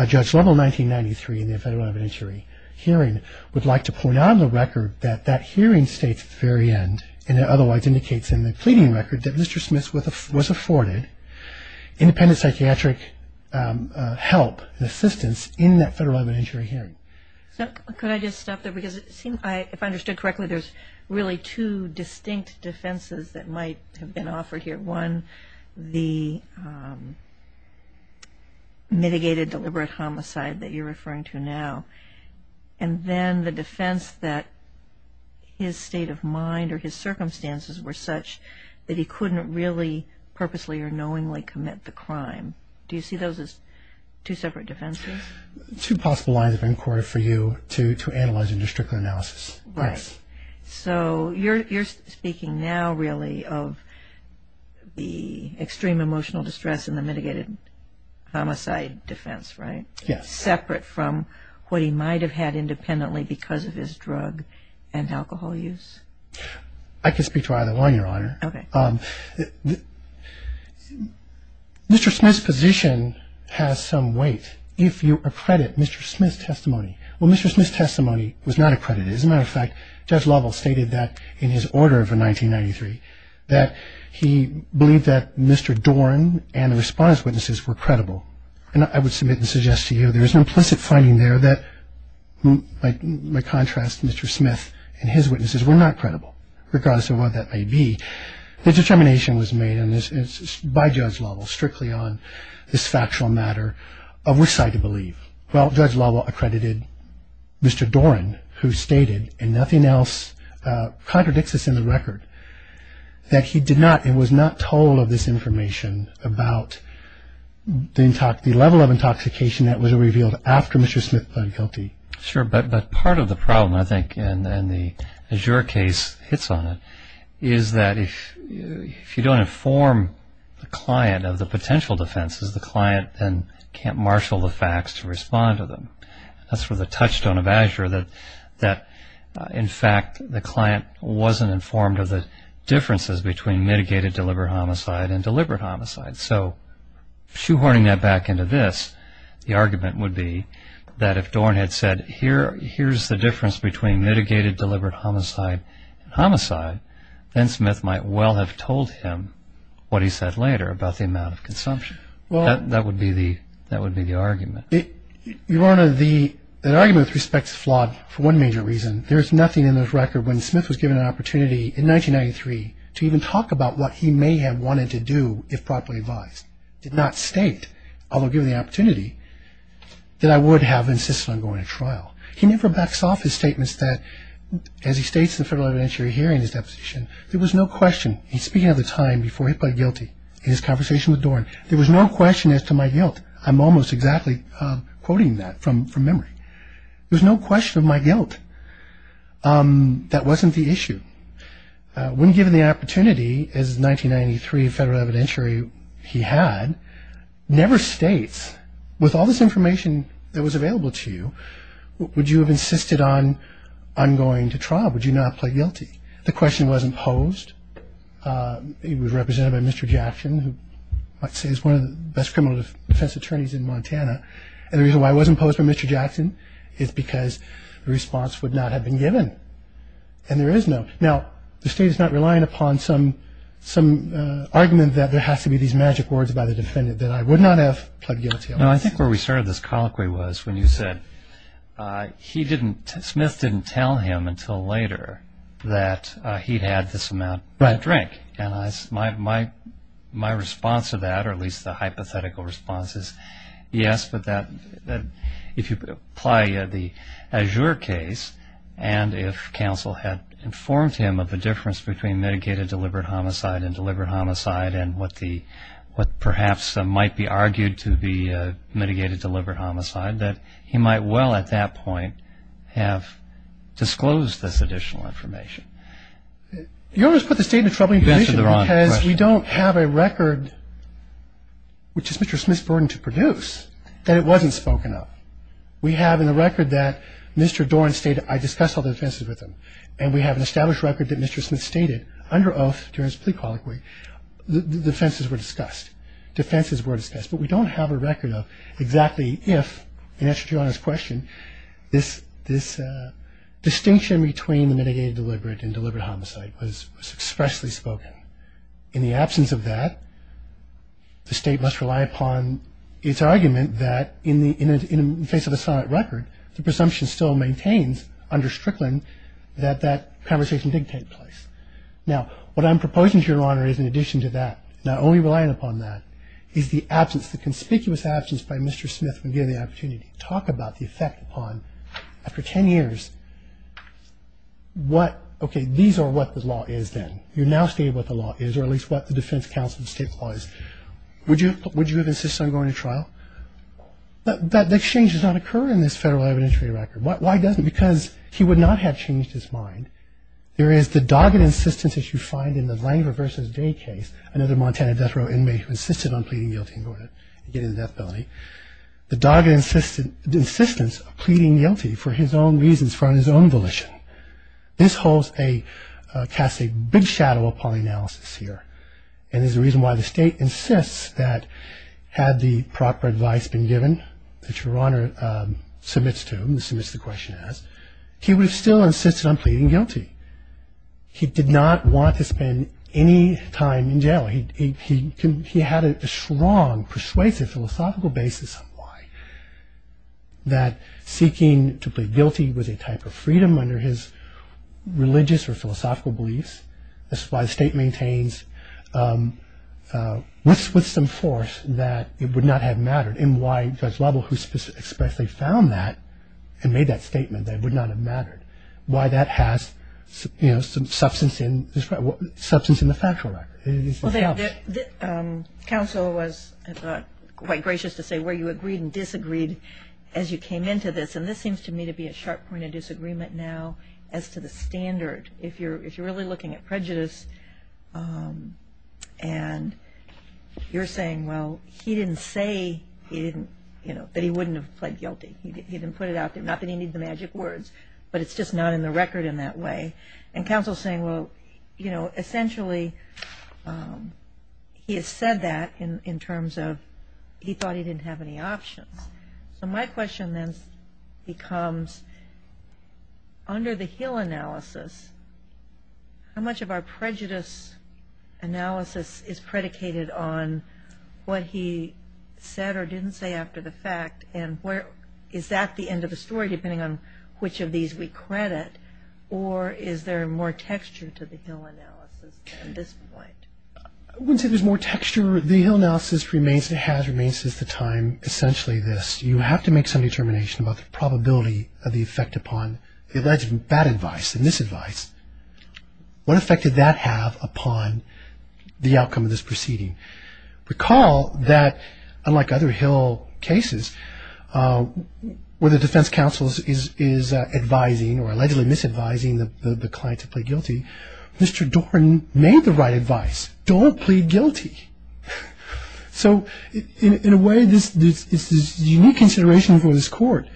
Judge Lovell 1993 in the federal evidentiary hearing would like to point out on the record that that hearing states at the very end, and it otherwise indicates in the pleading record that Mr. Smith was afforded independent psychiatric help and assistance in that federal evidentiary hearing. So could I just stop there, because it seems, if I understood correctly, there's really two distinct defenses that might have been offered here. One, the mitigated deliberate homicide that you're referring to now, and then the defense that his state of mind or his circumstances were such that he couldn't really purposely or knowingly commit the crime. Do you see those as two separate defenses? Two possible lines of inquiry for you to analyze and to stricter analysis. Right. So you're speaking now, really, of the extreme emotional distress and the mitigated homicide defense, right? Yes. Separate from what he might have had independently because of his drug and alcohol use? I can speak to either one, Your Honor. Okay. Mr. Smith's position has some weight if you accredit Mr. Smith's testimony. Well, Mr. Smith's testimony was not accredited. As a matter of fact, Judge Lovell stated that in his order for 1993, that he believed that Mr. Doran and the response witnesses were credible. And I would submit and suggest to you there is an implicit finding there that, by contrast, Mr. Smith and his witnesses were not credible, regardless of what that may be. The determination was made by Judge Lovell strictly on this factual matter of which side to believe. Well, Judge Lovell accredited Mr. Doran, who stated, and nothing else contradicts this in the record, that he was not told of this information about the level of intoxication that was revealed after Mr. Smith pled guilty. Sure, but part of the problem, I think, and the Azure case hits on it, is that if you don't inform the client of the potential defenses, the client then can't marshal the facts to respond to them. That's where the touchstone of Azure that, in fact, the client wasn't informed of the differences between mitigated deliberate homicide and deliberate homicide. So shoehorning that back into this, the argument would be that if Doran had said, here's the difference between mitigated deliberate homicide and homicide, then Smith might well have told him what he said later about the amount of consumption. That would be the argument. Your Honor, the argument, with respect, is flawed for one major reason. There is nothing in this record when Smith was given an opportunity in 1993 to even talk about what he may have wanted to do if properly advised. It did not state, although given the opportunity, that I would have insisted on going to trial. He never backs off his statements that, as he states in the federal evidentiary hearing in his deposition, there was no question, he's speaking of the time before he pled guilty in his conversation with Doran, there was no question as to my guilt. I'm almost exactly quoting that from memory. There was no question of my guilt. That wasn't the issue. When given the opportunity, as 1993 federal evidentiary, he had, never states, with all this information that was available to you, would you have insisted on going to trial? Would you not have pled guilty? The question wasn't posed. It was represented by Mr. Jackson, who I'd say is one of the best criminal defense attorneys in Montana. And the reason why it wasn't posed by Mr. Jackson is because the response would not have been given. And there is no. Now, the state is not relying upon some argument that there has to be these magic words by the defendant, that I would not have pled guilty otherwise. No, I think where we started this colloquy was when you said he didn't, Smith didn't tell him until later that he'd had this amount to drink. And my response to that, or at least the hypothetical response, is yes, but that if you apply the Azure case and if counsel had informed him of the difference between mitigated deliberate homicide and deliberate homicide and what perhaps might be argued to be mitigated deliberate homicide, that he might well at that point have disclosed this additional information. You always put the state in a troubling position because we don't have a record, which is Mr. Smith's burden to produce, that it wasn't spoken of. We have in the record that Mr. Doran stated, I discussed all the offenses with him, and we have an established record that Mr. Smith stated under oath during his plea colloquy, the offenses were discussed, defenses were discussed. But we don't have a record of exactly if, in answer to your Honor's question, this distinction between the mitigated deliberate and deliberate homicide was expressly spoken. In the absence of that, the state must rely upon its argument that in the face of a solid record, the presumption still maintains under Strickland that that conversation did take place. Now, what I'm proposing to your Honor is in addition to that, not only relying upon that, is the absence, the conspicuous absence by Mr. Smith when given the opportunity to talk about the effect upon, after 10 years, what, okay, these are what the law is then. You now state what the law is, or at least what the defense counsel and state law is. Would you have insisted on going to trial? That exchange does not occur in this federal evidentiary record. Why doesn't it? Because he would not have changed his mind. There is the dogged insistence that you find in the Langer v. Day case, another Montana death row inmate who insisted on pleading guilty and going to get into death penalty. The dogged insistence of pleading guilty for his own reasons, for his own volition. This holds a, casts a big shadow upon the analysis here, and is the reason why the state insists that had the proper advice been given, that your Honor submits to him, submits the question as, he would have still insisted on pleading guilty. He did not want to spend any time in jail. He had a strong persuasive philosophical basis on why, that seeking to plead guilty was a type of freedom under his religious or philosophical beliefs. This is why the state maintains with some force that it would not have mattered, and why Judge Lovell, who expressly found that and made that statement, that it would not have mattered, why that has substance in the factual record. Counsel was, I thought, quite gracious to say where you agreed and disagreed as you came into this, and this seems to me to be a sharp point of disagreement now as to the standard. If you're really looking at prejudice and you're saying, well, he didn't say that he wouldn't have pled guilty. He didn't put it out there, not that he needed the magic words, but it's just not in the record in that way. Counsel is saying, well, essentially he has said that in terms of he thought he didn't have any options. My question then becomes, under the Hill analysis, how much of our prejudice analysis is predicated on what he said or didn't say after the fact, and is that the end of the story depending on which of these we credit, or is there more texture to the Hill analysis at this point? I wouldn't say there's more texture. The Hill analysis has remained since the time essentially this. You have to make some determination about the probability of the effect upon the alleged bad advice and misadvice. What effect did that have upon the outcome of this proceeding? Recall that, unlike other Hill cases, where the defense counsel is advising or allegedly misadvising the client to plead guilty, Mr. Doran made the right advice, don't plead guilty. So in a way, this is unique consideration for this court.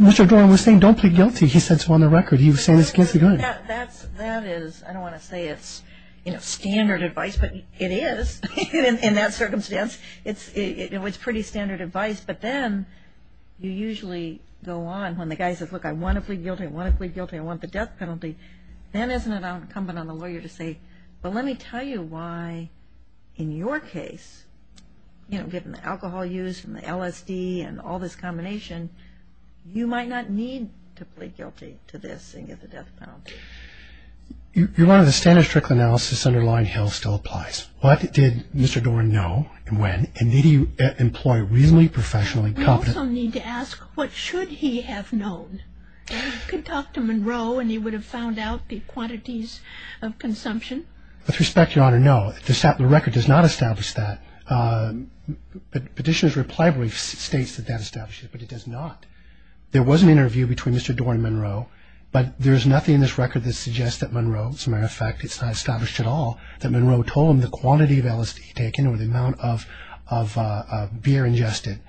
Mr. Doran was saying don't plead guilty. He said so on the record. He was saying this against the grain. That is, I don't want to say it's standard advice, but it is in that circumstance. It's pretty standard advice. But then you usually go on when the guy says, look, I want to plead guilty, I want to plead guilty, I want the death penalty. Then isn't it incumbent on the lawyer to say, well, let me tell you why in your case, given the alcohol use and the LSD and all this combination, you might not need to plead guilty to this and get the death penalty. Your Honor, the standard strict analysis underlying Hill still applies. What did Mr. Doran know and when, and did he employ reasonably professional and competent? I also need to ask, what should he have known? He could talk to Monroe and he would have found out the quantities of consumption. With respect, Your Honor, no. The record does not establish that. Petitioner's reply brief states that that establishes it, but it does not. There was an interview between Mr. Doran and Monroe, but there is nothing in this record that suggests that Monroe, as a matter of fact, it's not established at all that Monroe told him the quantity of LSD he'd taken or the amount of beer ingested.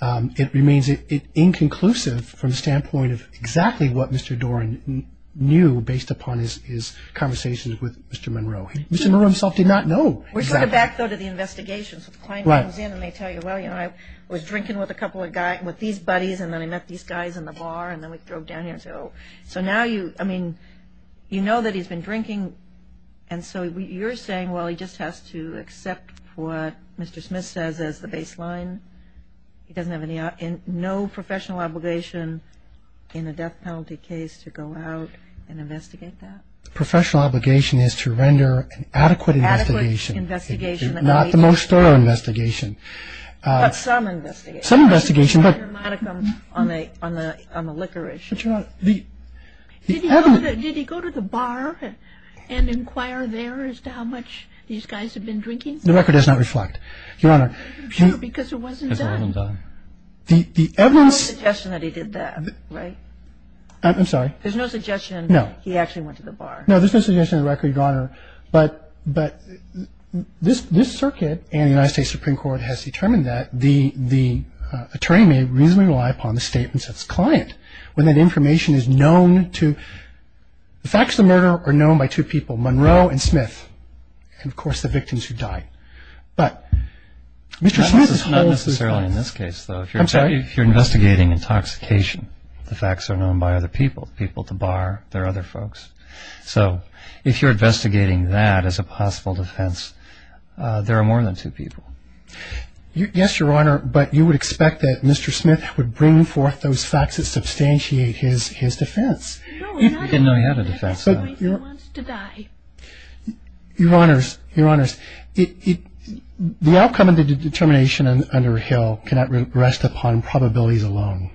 It remains inconclusive from the standpoint of exactly what Mr. Doran knew based upon his conversations with Mr. Monroe. Mr. Monroe himself did not know. We're sort of back, though, to the investigations. The client comes in and they tell you, well, you know, I was drinking with a couple of guys, with these buddies, and then I met these guys in the bar, and then we drove down here. So now you, I mean, you know that he's been drinking, and so you're saying, well, he just has to accept what Mr. Smith says as the baseline. He doesn't have any, no professional obligation in a death penalty case to go out and investigate that? Professional obligation is to render an adequate investigation. Adequate investigation. Not the most thorough investigation. But some investigation. Some investigation, but the evidence. Did he go to the bar and inquire there as to how much these guys had been drinking? The record does not reflect. Your Honor. Because it wasn't done. It wasn't done. The evidence. There's no suggestion that he did that, right? I'm sorry. There's no suggestion. No. He actually went to the bar. No, there's no suggestion on the record, Your Honor. But this circuit and the United States Supreme Court has determined that the attorney may reasonably rely upon the statements of his client when that information is known to, the facts of the murder are known by two people, Monroe and Smith, and, of course, the victims who died. But Mr. Smith's whole... That's not necessarily in this case, though. I'm sorry? If you're investigating intoxication, the facts are known by other people, the people at the bar, there are other folks. So if you're investigating that as a possible defense, there are more than two people. Yes, Your Honor, but you would expect that Mr. Smith would bring forth those facts that substantiate his defense. No, he didn't know he had a defense. He didn't know he had a defense. Your Honors, Your Honors, the outcome of the determination under Hill cannot rest upon probabilities alone.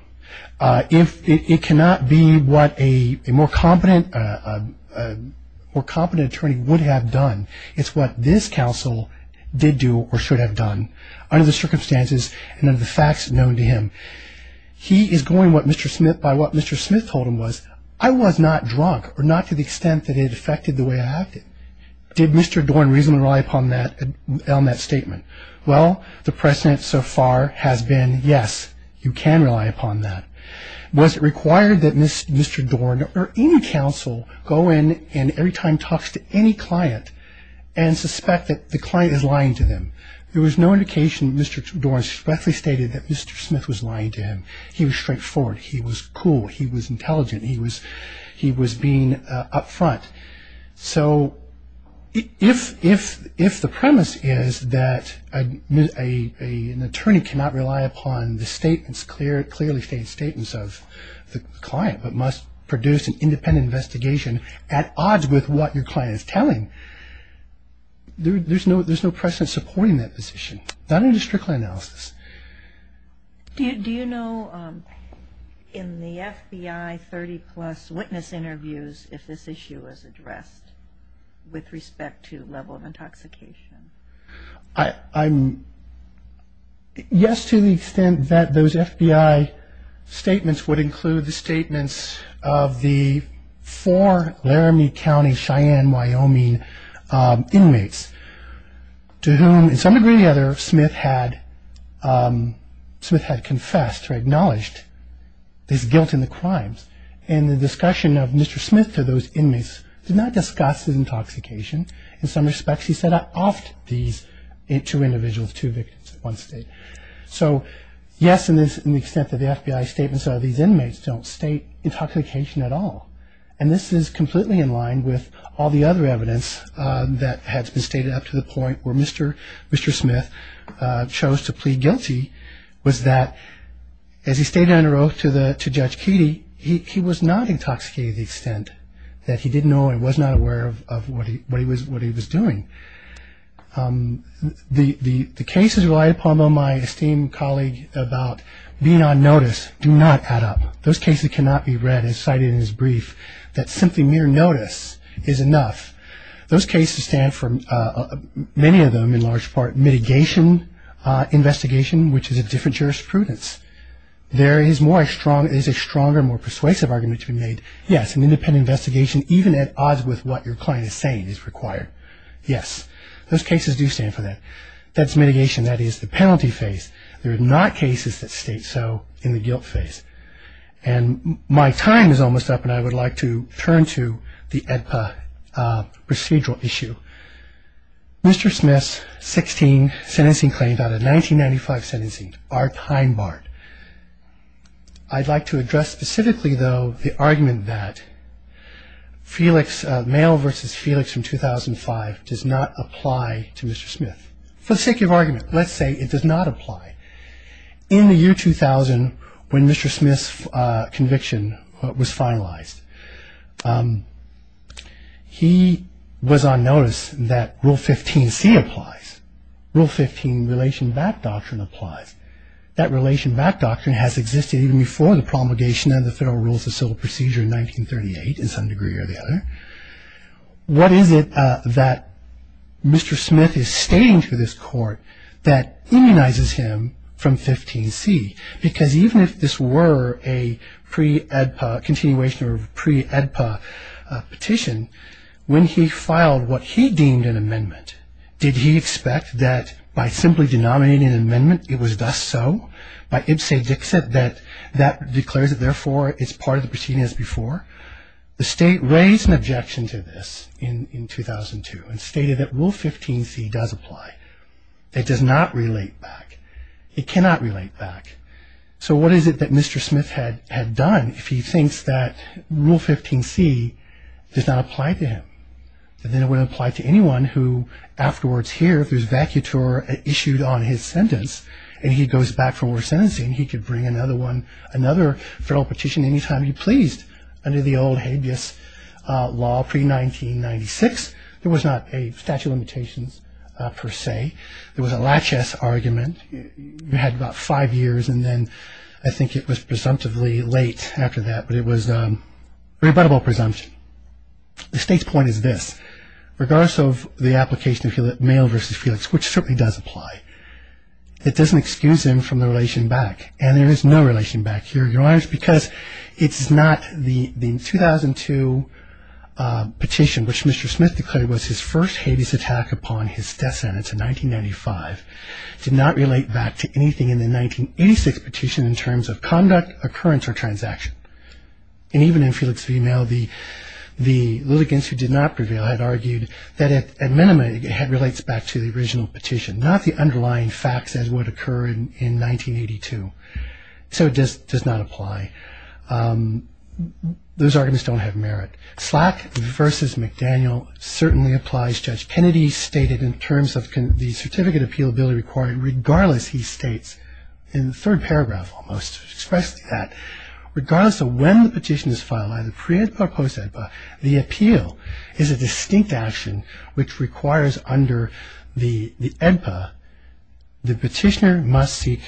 It cannot be what a more competent attorney would have done. It's what this counsel did do or should have done under the circumstances and under the facts known to him. He is going by what Mr. Smith told him was, I was not drunk or not to the extent that it affected the way I acted. Did Mr. Dorn reasonably rely upon that statement? Well, the precedent so far has been, yes, you can rely upon that. Was it required that Mr. Dorn or any counsel go in and every time talks to any client and suspect that the client is lying to them? There was no indication that Mr. Dorn swiftly stated that Mr. Smith was lying to him. He was straightforward. He was cool. He was intelligent. He was being up front. So if the premise is that an attorney cannot rely upon the statements, clearly stated statements of the client, but must produce an independent investigation at odds with what your client is telling, there's no precedent supporting that position. Not in a district court analysis. Do you know in the FBI 30-plus witness interviews if this issue was addressed with respect to level of intoxication? Yes, to the extent that those FBI statements would include the statements of the four Laramie County Cheyenne, Wyoming inmates to whom, to some degree or another, Smith had confessed or acknowledged his guilt in the crimes. And the discussion of Mr. Smith to those inmates did not discuss his intoxication. In some respects, he said, I offed these two individuals, two victims at one state. So, yes, in the extent that the FBI statements of these inmates don't state intoxication at all. And this is completely in line with all the other evidence that has been stated up to the point where Mr. Smith chose to plead guilty was that as he stayed under oath to Judge Keedy, he was not intoxicated to the extent that he didn't know and was not aware of what he was doing. The cases relied upon by my esteemed colleague about being on notice do not add up. Those cases cannot be read and cited in his brief that simply mere notice is enough. Those cases stand for, many of them in large part, mitigation investigation, which is a different jurisprudence. There is a stronger, more persuasive argument to be made. Yes, an independent investigation, even at odds with what your client is saying, is required. Yes, those cases do stand for that. That's mitigation. That is the penalty phase. There are not cases that state so in the guilt phase. And my time is almost up, and I would like to turn to the AEDPA procedural issue. Mr. Smith's 16 sentencing claims out of 1995 sentencing are time-barred. I'd like to address specifically, though, the argument that Felix, mail versus Felix from 2005 does not apply to Mr. Smith. For the sake of argument, let's say it does not apply. In the year 2000, when Mr. Smith's conviction was finalized, he was on notice that Rule 15C applies. Rule 15 relation back doctrine applies. That relation back doctrine has existed even before the promulgation of the Federal Rules of Civil Procedure in 1938, in some degree or the other. What is it that Mr. Smith is stating to this Court that immunizes him from 15C? Because even if this were a pre-AEDPA continuation or pre-AEDPA petition, when he filed what he deemed an amendment, did he expect that by simply denominating an amendment, it was thus so, by ibse dixit, that that declares it therefore is part of the proceeding as before? The State raised an objection to this in 2002 and stated that Rule 15C does apply. It does not relate back. It cannot relate back. So what is it that Mr. Smith had done if he thinks that Rule 15C does not apply to him? That then it would apply to anyone who afterwards here, if there's vacutor issued on his sentence, and he goes back for more sentencing, he could bring another Federal petition any time he pleased under the old habeas law pre-1996. There was not a statute of limitations per se. There was a laches argument. We had about five years, and then I think it was presumptively late after that, but it was a rebuttable presumption. The State's point is this. Regardless of the application of Mayo v. Felix, which certainly does apply, it doesn't excuse him from the relation back. And there is no relation back here, Your Honors, because it's not the 2002 petition which Mr. Smith declared was his first habeas attack upon his death sentence in 1995 did not relate back to anything in the 1986 petition in terms of conduct, occurrence, or transaction. And even in Felix v. Mayo, the litigants who did not prevail had argued that at minimum it relates back to the original petition, not the underlying facts as would occur in 1982. So it does not apply. Those arguments don't have merit. Slack v. McDaniel certainly applies. Judge Kennedy stated in terms of the certificate of appealability requirement, regardless, he states in the third paragraph almost, expressed that regardless of when the petition is filed, either pre-EDPA or post-EDPA, the appeal is a distinct action which requires under the EDPA the petitioner must seek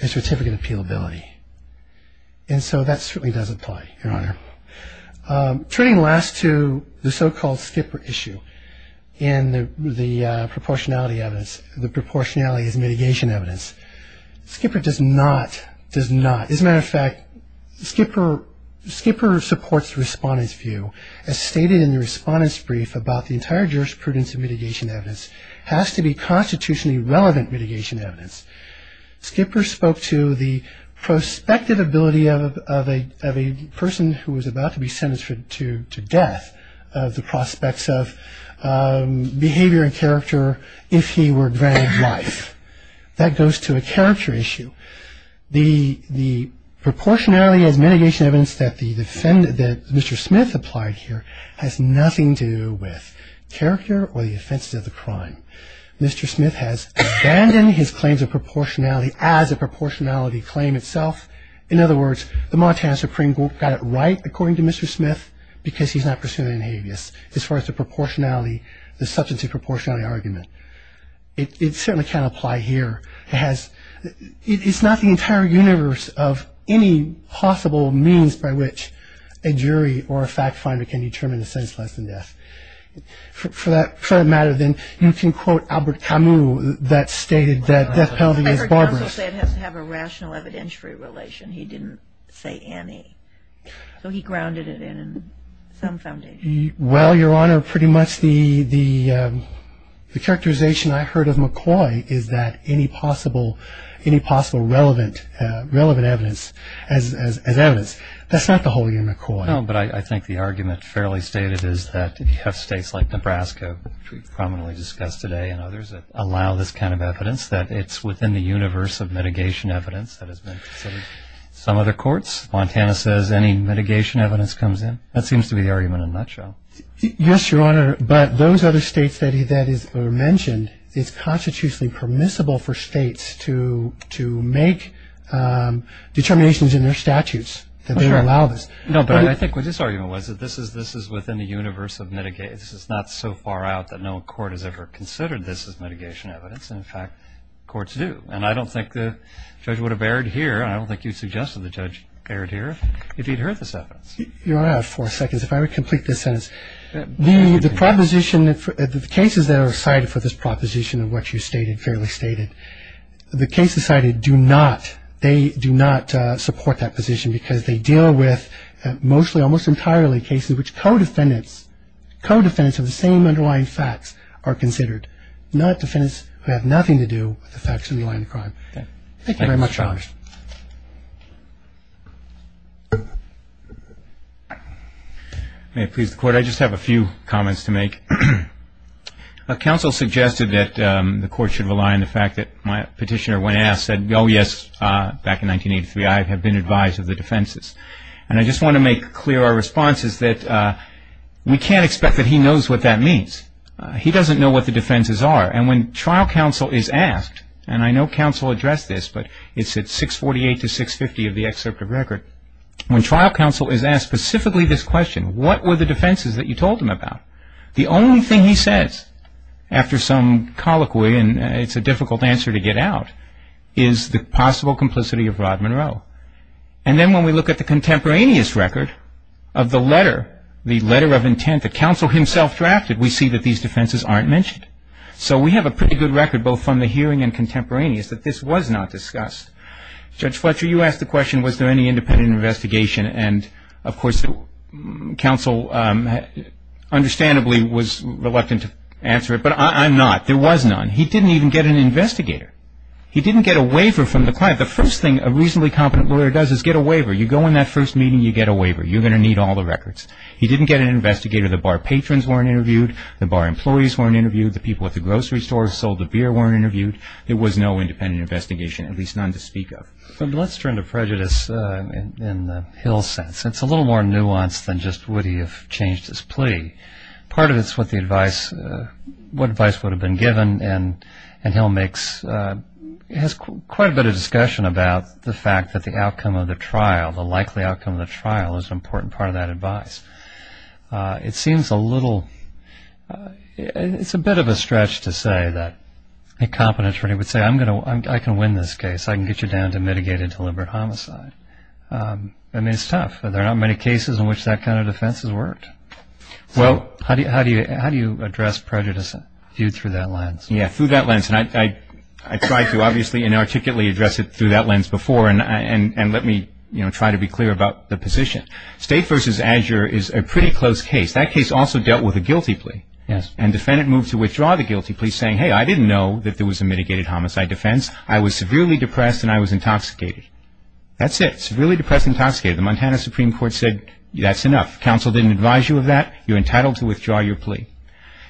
a certificate of appealability. And so that certainly does apply, Your Honor. Turning last to the so-called Skipper issue and the proportionality evidence, the proportionality is mitigation evidence. Skipper does not, does not. As a matter of fact, Skipper supports the respondent's view as stated in the respondent's brief about the entire jurisprudence of mitigation evidence has to be constitutionally relevant mitigation evidence. Skipper spoke to the prospective ability of a person who was about to be sentenced to death of the prospects of behavior and character if he were granted life. That goes to a character issue. So the proportionality as mitigation evidence that Mr. Smith applied here has nothing to do with character or the offenses of the crime. Mr. Smith has abandoned his claims of proportionality as a proportionality claim itself. In other words, the Montana Supreme Court got it right, according to Mr. Smith, because he's not pursuing an habeas as far as the proportionality, the substantive proportionality argument. It certainly can't apply here. It has, it's not the entire universe of any possible means by which a jury or a fact finder can determine a sentence less than death. For that matter, then, you can quote Albert Camus that stated that death penalty is barbarous. I heard counsel say it has to have a rational evidentiary relation. He didn't say any. So he grounded it in some foundation. Well, Your Honor, pretty much the characterization I heard of McCoy is that any possible relevant evidence as evidence. That's not the whole year, McCoy. No, but I think the argument fairly stated is that if you have states like Nebraska, which we prominently discussed today, and others that allow this kind of evidence, that it's within the universe of mitigation evidence that has been considered. Some other courts, Montana says any mitigation evidence comes in. That seems to be the argument in a nutshell. Yes, Your Honor, but those other states that are mentioned, it's constitutionally permissible for states to make determinations in their statutes that they allow this. No, but I think what this argument was that this is within the universe of mitigation. This is not so far out that no court has ever considered this as mitigation evidence. In fact, courts do. And I don't think the judge would have erred here, and I don't think you suggested the judge erred here, if he'd heard this evidence. Your Honor, I have four seconds. If I would complete this sentence. The proposition, the cases that are cited for this proposition of what you stated, fairly stated, the cases cited do not, they do not support that position because they deal with mostly almost entirely cases which co-defendants, co-defendants of the same underlying facts are considered, not defendants who have nothing to do with the facts underlying the crime. Thank you very much, Your Honor. May it please the Court. I just have a few comments to make. Counsel suggested that the Court should rely on the fact that my petitioner, when asked, said, oh, yes, back in 1983, I have been advised of the defenses. And I just want to make clear our response is that we can't expect that he knows what that means. He doesn't know what the defenses are. And when trial counsel is asked, and I know counsel addressed this, but it's at 648 to 650 of the excerpt of record. When trial counsel is asked specifically this question, what were the defenses that you told him about, the only thing he says after some colloquy, and it's a difficult answer to get out, is the possible complicity of Rod Monroe. And then when we look at the contemporaneous record of the letter, the letter of intent, the counsel himself drafted, we see that these defenses aren't mentioned. So we have a pretty good record, both from the hearing and contemporaneous, that this was not discussed. Judge Fletcher, you asked the question, was there any independent investigation? And, of course, counsel understandably was reluctant to answer it, but I'm not. There was none. He didn't even get an investigator. He didn't get a waiver from the client. The first thing a reasonably competent lawyer does is get a waiver. You go in that first meeting, you get a waiver. You're going to need all the records. He didn't get an investigator. The bar patrons weren't interviewed. The bar employees weren't interviewed. The people at the grocery store sold the beer weren't interviewed. There was no independent investigation, at least none to speak of. Let's turn to prejudice in Hill's sense. It's a little more nuanced than just would he have changed his plea. Part of it is what advice would have been given, and Hill has quite a bit of discussion about the fact that the outcome of the trial, the likely outcome of the trial, is an important part of that advice. It seems a little – it's a bit of a stretch to say that a competent attorney would say, I can win this case. I can get you down to mitigating deliberate homicide. I mean, it's tough. There are not many cases in which that kind of defense has worked. So how do you address prejudice viewed through that lens? Yeah, through that lens. And I tried to, obviously, inarticulately address it through that lens before, and let me try to be clear about the position. State v. Azure is a pretty close case. That case also dealt with a guilty plea. Yes. And defendant moved to withdraw the guilty plea, saying, hey, I didn't know that there was a mitigated homicide defense. I was severely depressed and I was intoxicated. That's it, severely depressed and intoxicated. The Montana Supreme Court said that's enough. Counsel didn't advise you of that. You're entitled to withdraw your plea.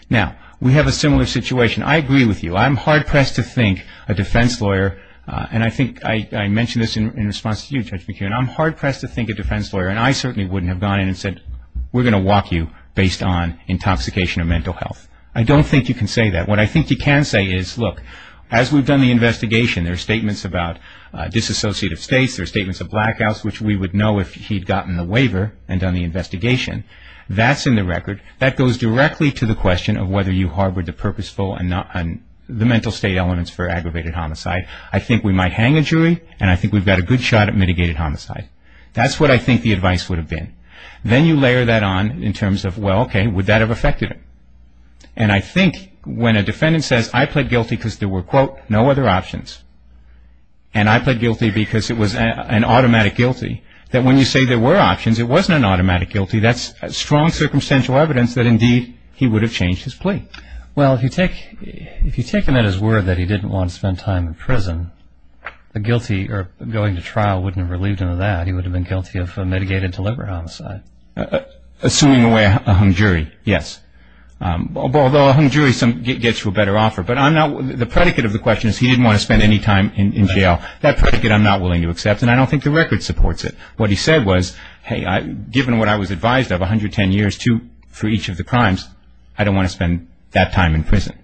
Now, we have a similar situation. I agree with you. I'm hard-pressed to think a defense lawyer, and I think I mentioned this in response to you, Judge McKeon. I'm hard-pressed to think a defense lawyer, and I certainly wouldn't have gone in and said, we're going to walk you based on intoxication or mental health. I don't think you can say that. What I think you can say is, look, as we've done the investigation, there are statements about disassociative states, there are statements of blackouts, which we would know if he'd gotten the waiver and done the investigation. That's in the record. That goes directly to the question of whether you harbored the purposeful and the mental state elements for aggravated homicide. I think we might hang a jury, and I think we've got a good shot at mitigated homicide. That's what I think the advice would have been. Then you layer that on in terms of, well, okay, would that have affected him? And I think when a defendant says, I pled guilty because there were, quote, no other options, and I pled guilty because it was an automatic guilty, that when you say there were options, it wasn't an automatic guilty, that's strong circumstantial evidence that, indeed, he would have changed his plea. Well, if you take him at his word that he didn't want to spend time in prison, going to trial wouldn't have relieved him of that. He would have been guilty of mitigated deliberate homicide. Assuming away a hung jury, yes. Although a hung jury gets you a better offer. But the predicate of the question is he didn't want to spend any time in jail. That predicate I'm not willing to accept, and I don't think the record supports it. What he said was, hey, given what I was advised of, 110 years for each of the crimes, I don't want to spend that time in prison.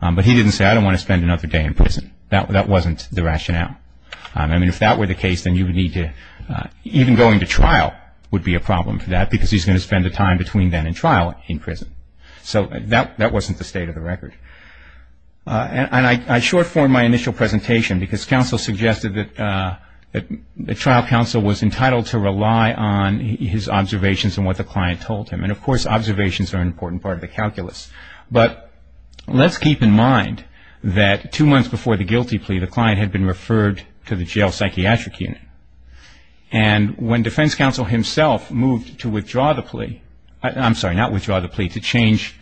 But he didn't say, I don't want to spend another day in prison. That wasn't the rationale. I mean, if that were the case, then you would need to, even going to trial would be a problem for that because he's going to spend the time between then and trial in prison. So that wasn't the state of the record. And I short-formed my initial presentation because counsel suggested that trial counsel was entitled to rely on his observations and what the client told him. And, of course, observations are an important part of the calculus. But let's keep in mind that two months before the guilty plea, the client had been referred to the jail psychiatric unit. And when defense counsel himself moved to withdraw the plea, I'm sorry, not withdraw the plea, to change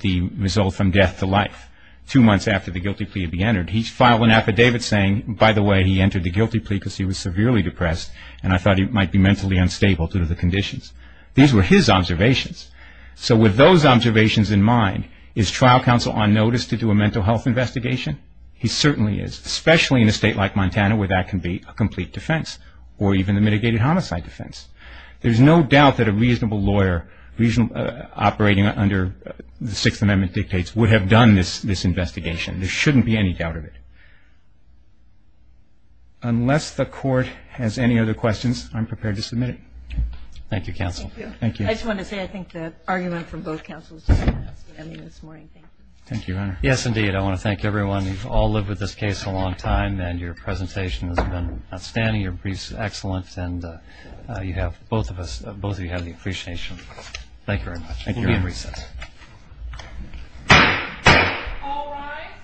the result from death to life, two months after the guilty plea had been entered, he filed an affidavit saying, by the way, he entered the guilty plea because he was severely depressed and I thought he might be mentally unstable due to the conditions. These were his observations. So with those observations in mind, is trial counsel on notice to do a mental health investigation? He certainly is, especially in a state like Montana where that can be a complete defense or even a mitigated homicide defense. There's no doubt that a reasonable lawyer operating under the Sixth Amendment dictates would have done this investigation. There shouldn't be any doubt of it. Unless the Court has any other questions, I'm prepared to submit it. Thank you, counsel. Thank you. I just want to say I think the argument from both counsels is fantastic. I mean, this morning, thank you. Thank you, Your Honor. Yes, indeed. I want to thank everyone. You've all lived with this case a long time and your presentation has been outstanding. Your briefs are excellent and you have both of us, both of you have the appreciation. Thank you very much. Thank you, Your Honor. We'll be in recess. All rise.